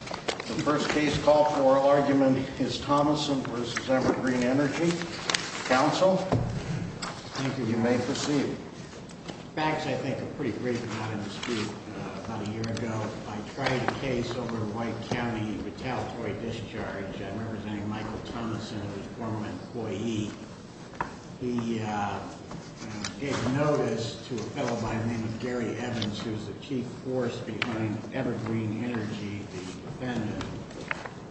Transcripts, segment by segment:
The first case call for argument is Thomason v. Evergreen Energy. Counsel, you may proceed. Facts, I think, are pretty great for not having to speak about a year ago. I tried a case over in White County, retaliatory discharge, representing Michael Thomason, a former employee. He gave notice to a fellow by the name of Gary Evans, who was the chief force behind Evergreen Energy, the defendant,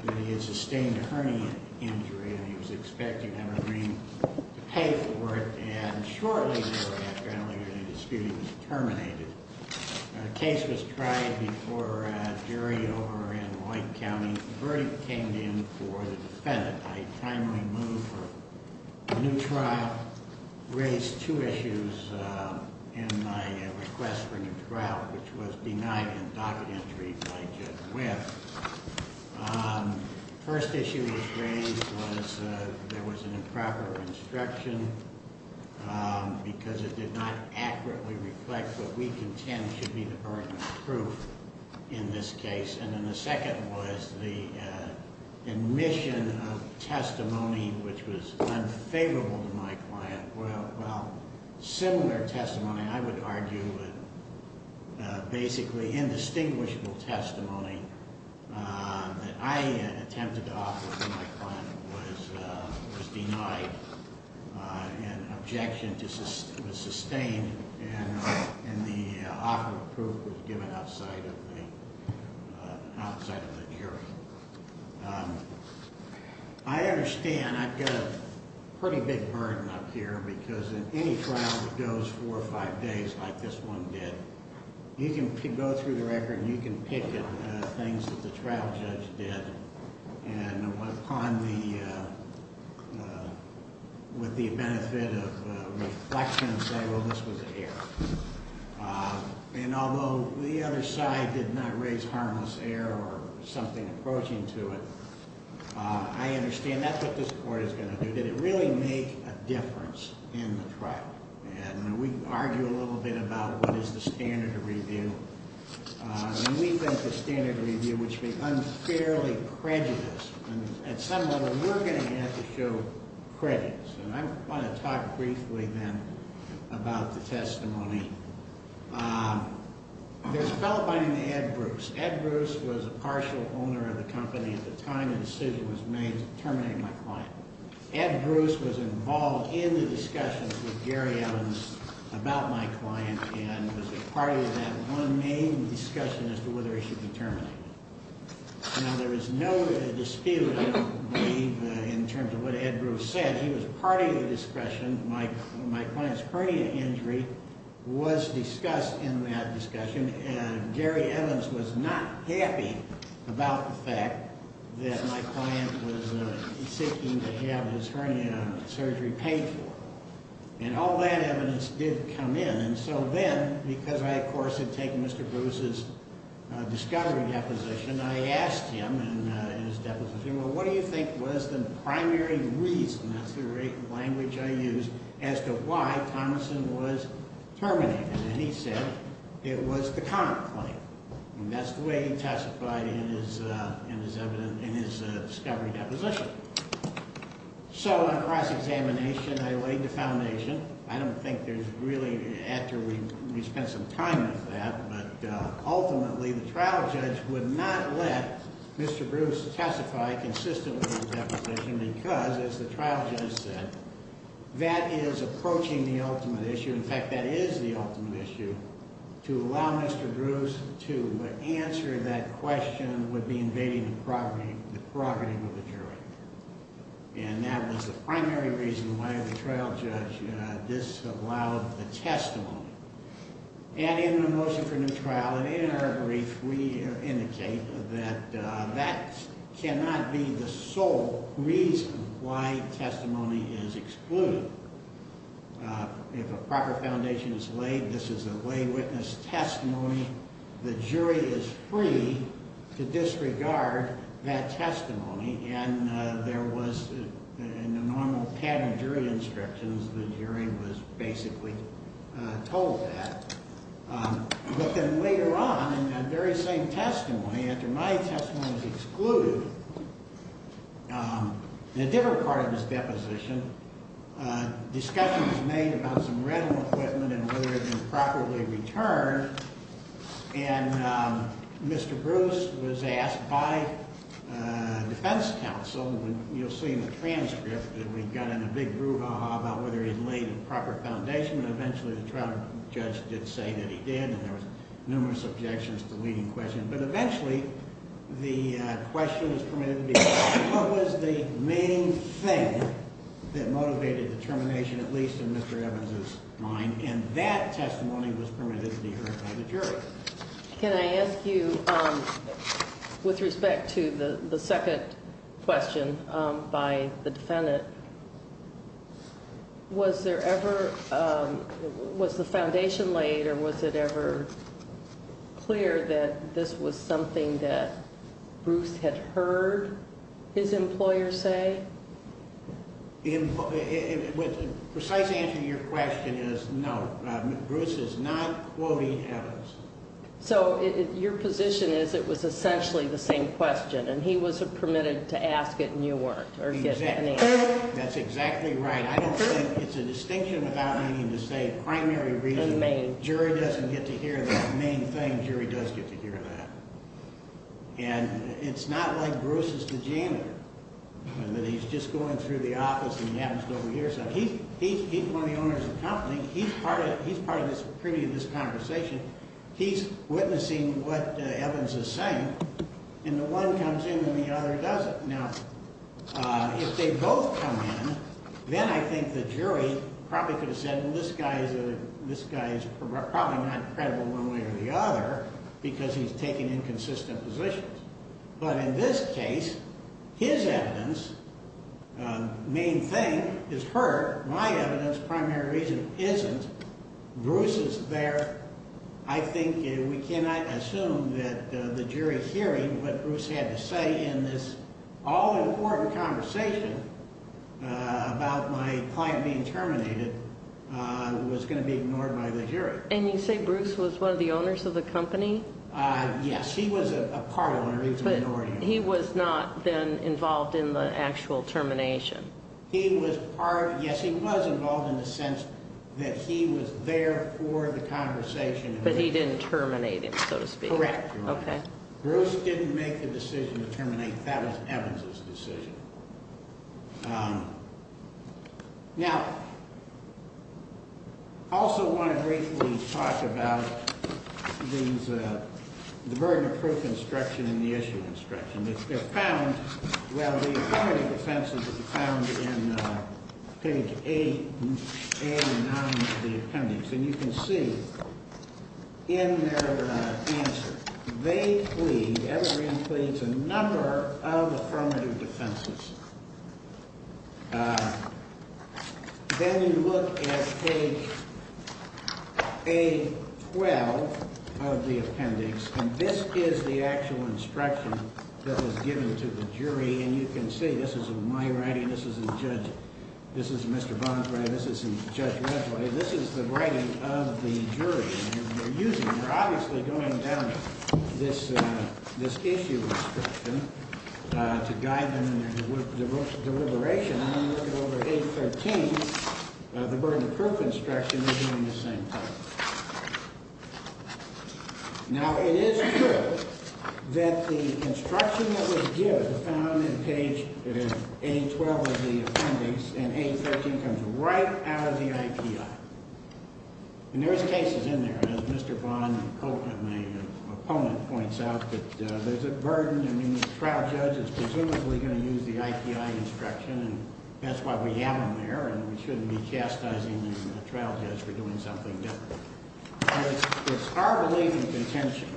that he had sustained a hernia injury and he was expecting Evergreen to pay for it. And shortly thereafter, apparently, the dispute was terminated. A case was tried before a jury over in White County. The verdict came in for the defendant. I timely moved for a new trial, raised two issues in my request for a new trial, which was denied and docket entry by Judge Webb. The first issue that was raised was there was an improper instruction because it did not accurately reflect what we contend should be the burden of proof in this case. And then the second was the admission of testimony which was unfavorable to my client. Well, similar testimony, I would argue, basically indistinguishable testimony that I attempted to offer to my client was denied. An objection was sustained and the offer of proof was given outside of the jury. I understand I've got a pretty big burden up here because in any trial that goes four or five days like this one did, you can go through the record and you can pick things that the trial judge did and upon the, with the benefit of reflection, say, well, this was air. And although the other side did not raise harmless air or something approaching to it, I understand that's what this court is going to do. Did it really make a difference in the trial? And we argue a little bit about what is the standard of review. And we think the standard of review would be unfairly prejudiced. And at some level, we're going to have to show prejudice. And I want to talk briefly then about the testimony. There's a fellow by the name of Ed Bruce. Ed Bruce was a partial owner of the company at the time the decision was made to terminate my client. Ed Bruce was involved in the discussions with Gary Evans about my client and was a party to that one main discussion as to whether he should be terminated. Now, there is no dispute, I believe, in terms of what Ed Bruce said. He was a party to the discussion. My client's hernia injury was discussed in that discussion. And Gary Evans was not happy about the fact that my client was seeking to have his hernia surgery paid for. And all that evidence did come in. And so then, because I, of course, had taken Mr. Bruce's discovery deposition, I asked him in his deposition, well, what do you think was the primary reason, that's the language I used, as to why Thomason was terminated? And he said it was the counterclaim. And that's the way he testified in his discovery deposition. So on cross-examination, I laid the foundation. I don't think there's really, after we spent some time with that, but ultimately the trial judge would not let Mr. Bruce testify consistently in his deposition because, as the trial judge said, that is approaching the ultimate issue. In fact, that is the ultimate issue. To allow Mr. Bruce to answer that question would be invading the prerogative of the jury. And that was the primary reason why the trial judge disallowed the testimony. And in the motion for new trial, and in our brief, we indicate that that cannot be the sole reason why testimony is excluded. If a proper foundation is laid, this is a lay witness testimony. The jury is free to disregard that testimony. And there was, in the normal pattern jury instructions, the jury was basically told that. But then later on, in that very same testimony, after my testimony was excluded, in a different part of his deposition, discussions were made about some retinal equipment and whether it had been properly returned. And Mr. Bruce was asked by defense counsel, and you'll see in the transcript that we got in a big brouhaha about whether he had laid a proper foundation, and eventually the trial judge did say that he did, and there were numerous objections to the leading question. But eventually the question was permitted to be asked, what was the main thing that motivated the termination, at least in Mr. Evans's mind? And that testimony was permitted to be heard by the jury. Can I ask you, with respect to the second question by the defendant, was there ever, was the foundation laid, or was it ever clear that this was something that Bruce had heard his employer say? The precise answer to your question is no. Bruce is not quoting Evans. So your position is it was essentially the same question, and he was permitted to ask it and you weren't? That's exactly right. I don't think it's a distinction without meaning to say primary reason. Jury doesn't get to hear the main thing. Jury does get to hear that. And it's not like Bruce is the janitor and that he's just going through the office and he happens to overhear something. He's one of the owners of the company. He's part of this privy to this conversation. He's witnessing what Evans is saying, and the one comes in and the other doesn't. Now, if they both come in, then I think the jury probably could have said, well, this guy's probably not credible one way or the other because he's taking inconsistent positions. But in this case, his evidence, main thing, is heard. My evidence, primary reason, isn't. Bruce is there. I think we cannot assume that the jury hearing what Bruce had to say in this all-important conversation about my client being terminated was going to be ignored by the jury. And you say Bruce was one of the owners of the company? Yes, he was a part owner. But he was not then involved in the actual termination. Yes, he was involved in the sense that he was there for the conversation. But he didn't terminate him, so to speak. Correct. Okay. Bruce didn't make the decision to terminate. That was Evans' decision. Now, I also want to briefly talk about the burden of proof instruction and the issue instruction. Well, the affirmative defense is found in page 8 and 9 of the appendix. And you can see in their answer, they plead, Evergreen pleads, a number of affirmative defenses. Then you look at page A-12 of the appendix, and this is the actual instruction that was given to the jury. And you can see this is in my writing. This is in Judge – this is Mr. Bond's writing. This is in Judge Redway. This is the writing of the jury. They're obviously going down this issue instruction to guide them in their deliberation. And then you look at over A-13, the burden of proof instruction, they're doing the same thing. Now, it is true that the instruction that was given is found in page A-12 of the appendix, and A-13 comes right out of the IPI. And there's cases in there, as Mr. Bond and my opponent points out, that there's a burden. I mean, the trial judge is presumably going to use the IPI instruction, and that's why we have them there, and we shouldn't be chastising the trial judge for doing something different. But it's our belief and contention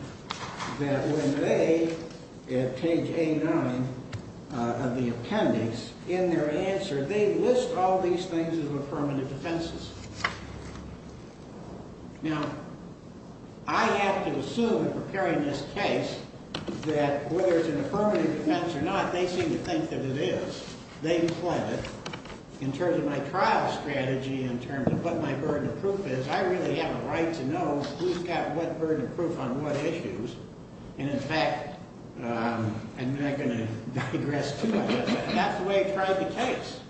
that when they, at page A-9 of the appendix, in their answer, they list all these things as affirmative defenses. Now, I have to assume in preparing this case that whether it's an affirmative defense or not, they seem to think that it is. They've pledged, in terms of my trial strategy, in terms of what my burden of proof is, I really have a right to know who's got what burden of proof on what issues. And, in fact, I'm not going to digress too much. And that's the way I tried the case.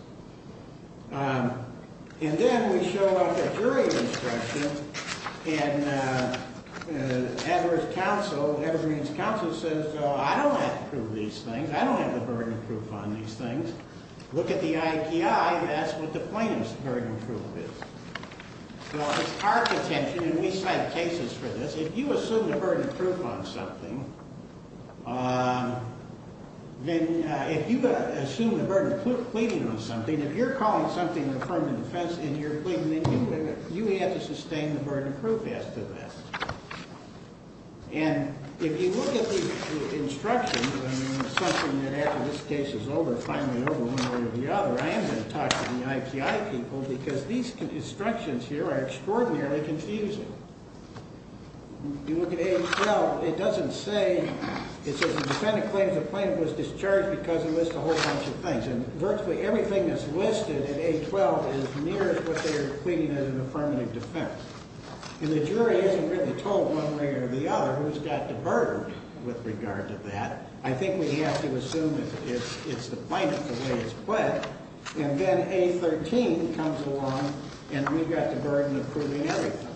And then we show up at jury instruction, and Edward's counsel, Edward Green's counsel, says, I don't have to prove these things. I don't have the burden of proof on these things. Look at the IPI, and that's what the plaintiff's burden of proof is. Now, it's our contention, and we cite cases for this, if you assume the burden of proof on something, then if you assume the burden of proof pleading on something, if you're calling something an affirmative defense and you're pleading, then you may have to sustain the burden of proof as to this. And if you look at the instructions, something that after this case is over, finally over one way or the other, I am going to talk to the IPI people, because these instructions here are extraordinarily confusing. If you look at A12, it doesn't say, it says the defendant claims the plaintiff was discharged because he lists a whole bunch of things. And virtually everything that's listed in A12 is near what they are pleading as an affirmative defense. And the jury isn't really told one way or the other who's got the burden with regard to that. I think we have to assume it's the plaintiff, the way it's pled. And then A13 comes along, and we've got the burden of proving everything.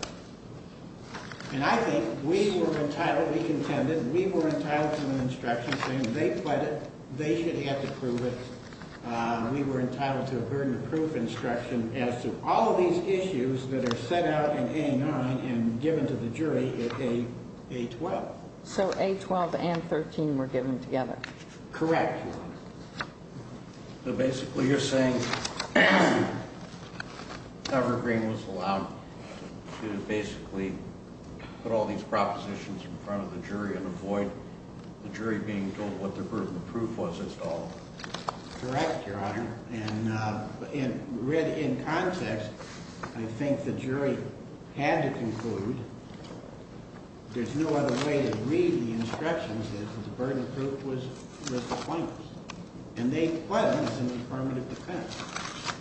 And I think we were entitled, we contended, we were entitled to an instruction saying they pled it, they should have to prove it. We were entitled to a burden of proof instruction as to all of these issues that are set out in A9 and given to the jury in A12. So A12 and 13 were given together. Correct. So basically you're saying that Evergreen was allowed to basically put all these propositions in front of the jury and avoid the jury being told what their burden of proof was as to all of them. Correct, Your Honor. And read in context, I think the jury had to conclude, there's no other way to read the instructions that the burden of proof was the plaintiff's. And they pled them as an affirmative defense.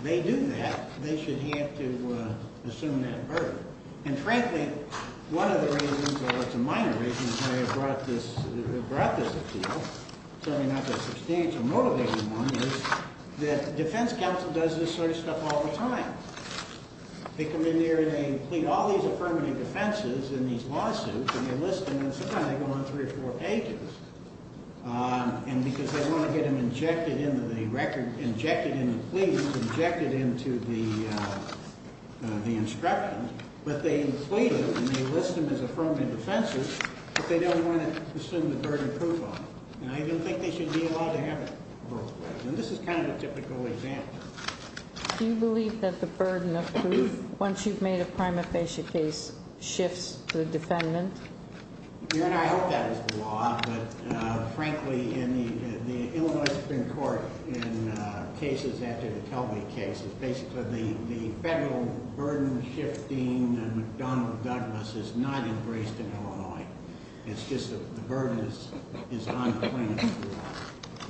They do that, they should have to assume that burden. And frankly, one of the reasons, or it's a minor reason, why I brought this appeal, certainly not the substantial motivating one, is that defense counsel does this sort of stuff all the time. They come in there and they plead all these affirmative defenses in these lawsuits and they list them and sometimes they go on three or four pages. And because they want to get them injected into the record, injected into the pleadings, injected into the instructions, but they plead them and they list them as affirmative defenses, but they don't want to assume the burden of proof on them. And I don't think they should be allowed to have it. And this is kind of a typical example. Do you believe that the burden of proof, once you've made a prima facie case, shifts to the defendant? I hope that is the law, but frankly, in the Illinois Supreme Court in cases after the Kelby case, basically the federal burden shifting and McDonnell Douglas is not embraced in Illinois. It's just that the burden is on the plaintiff.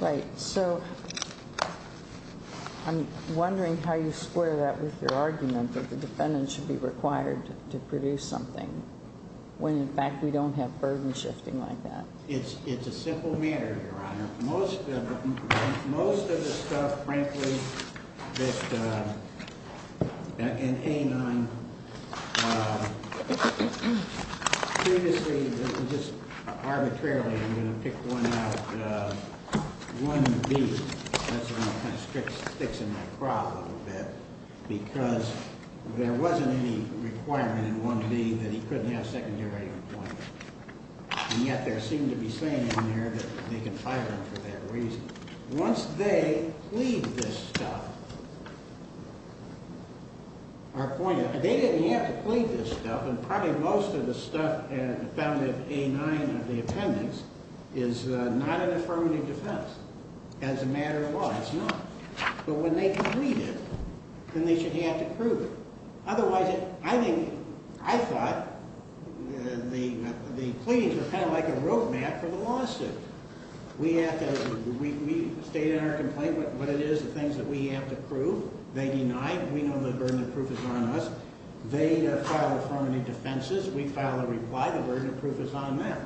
Right. So I'm wondering how you square that with your argument that the defendant should be required to produce something when, in fact, we don't have burden shifting like that. It's a simple matter, Your Honor. Most of the stuff, frankly, in A9, previously, just arbitrarily, I'm going to pick one out, 1B. That's the one that kind of sticks in my craw a little bit because there wasn't any requirement in 1B that he couldn't have secondary employment. And yet there seemed to be saying in there that they could fire him for that reason. Once they plead this stuff, they didn't have to plead this stuff, and probably most of the stuff found in A9 of the appendix is not an affirmative defense. As a matter of law, it's not. But when they plead it, then they should have to prove it. Otherwise, I thought the pleadings were kind of like a roadmap for the lawsuit. We state in our complaint what it is, the things that we have to prove. They deny. We know the burden of proof is on us. They file affirmative defenses. We file a reply. The burden of proof is on them.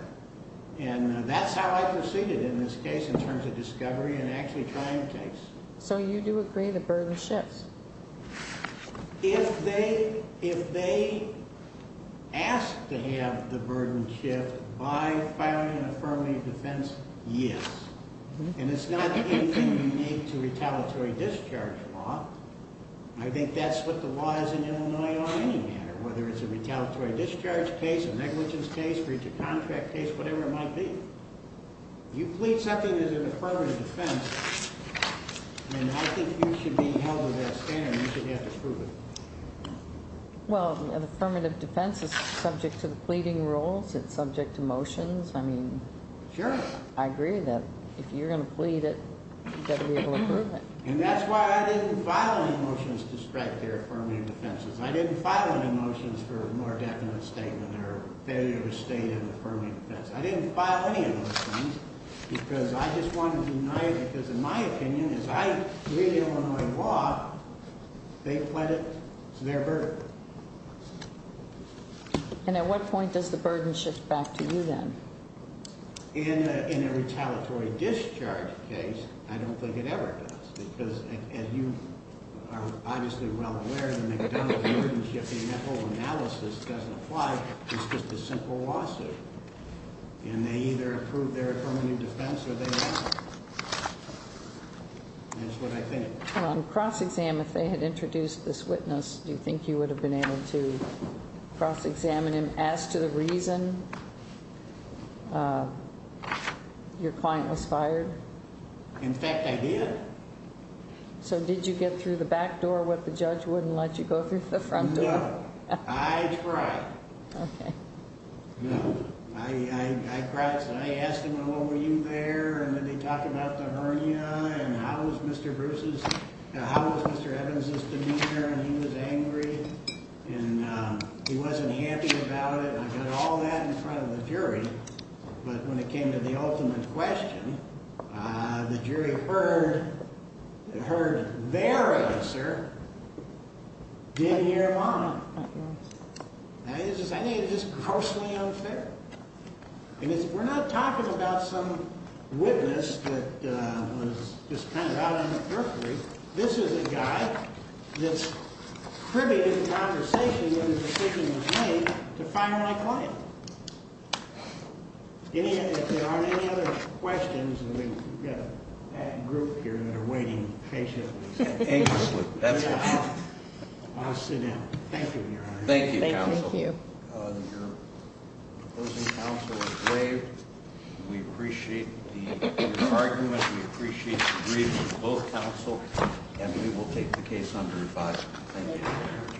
And that's how I proceeded in this case in terms of discovery and actually trying the case. So you do agree the burden shifts? If they ask to have the burden shift by filing an affirmative defense, yes. And it's not anything unique to retaliatory discharge law. I think that's what the law is in Illinois on any matter, whether it's a retaliatory discharge case, a negligence case, breach of contract case, whatever it might be. You plead something as an affirmative defense, and I think you should be held to that standard. You should have to prove it. Well, an affirmative defense is subject to the pleading rules. It's subject to motions. I mean, I agree that if you're going to plead it, you've got to be able to prove it. And that's why I didn't file any motions to strike their affirmative defenses. I didn't file any motions for a more definite statement or failure to state an affirmative defense. I didn't file any of those things because I just wanted to deny it, because in my opinion, as I read Illinois law, they pled it to their burden. And at what point does the burden shift back to you then? In a retaliatory discharge case, I don't think it ever does, because as you are obviously well aware, the McDonnell burden shifting ethical analysis doesn't apply. It's just a simple lawsuit. And they either approve their affirmative defense or they don't. That's what I think. On cross-exam, if they had introduced this witness, do you think you would have been able to cross-examine him as to the reason your client was fired? In fact, I did. So did you get through the back door what the judge wouldn't let you go through the front door? No. I tried. Okay. No. I asked him, well, what were you there? And then they talked about the hernia and how was Mr. Evans' demeanor, and he was angry. And he wasn't happy about it. And I got all that in front of the jury. But when it came to the ultimate question, the jury heard their answer, did hear mine. I think it's just grossly unfair. And we're not talking about some witness that was just kind of out on the periphery. This is a guy that's privy to the conversation when a decision is made to fire my client. If there aren't any other questions, and we've got a group here that are waiting patiently. Anxiously. I'll sit down. Thank you, Your Honor. Thank you, counsel. Thank you. Your opposing counsel is brave. We appreciate your argument. We appreciate the bravery of both counsel, and we will take the case under review. Thank you.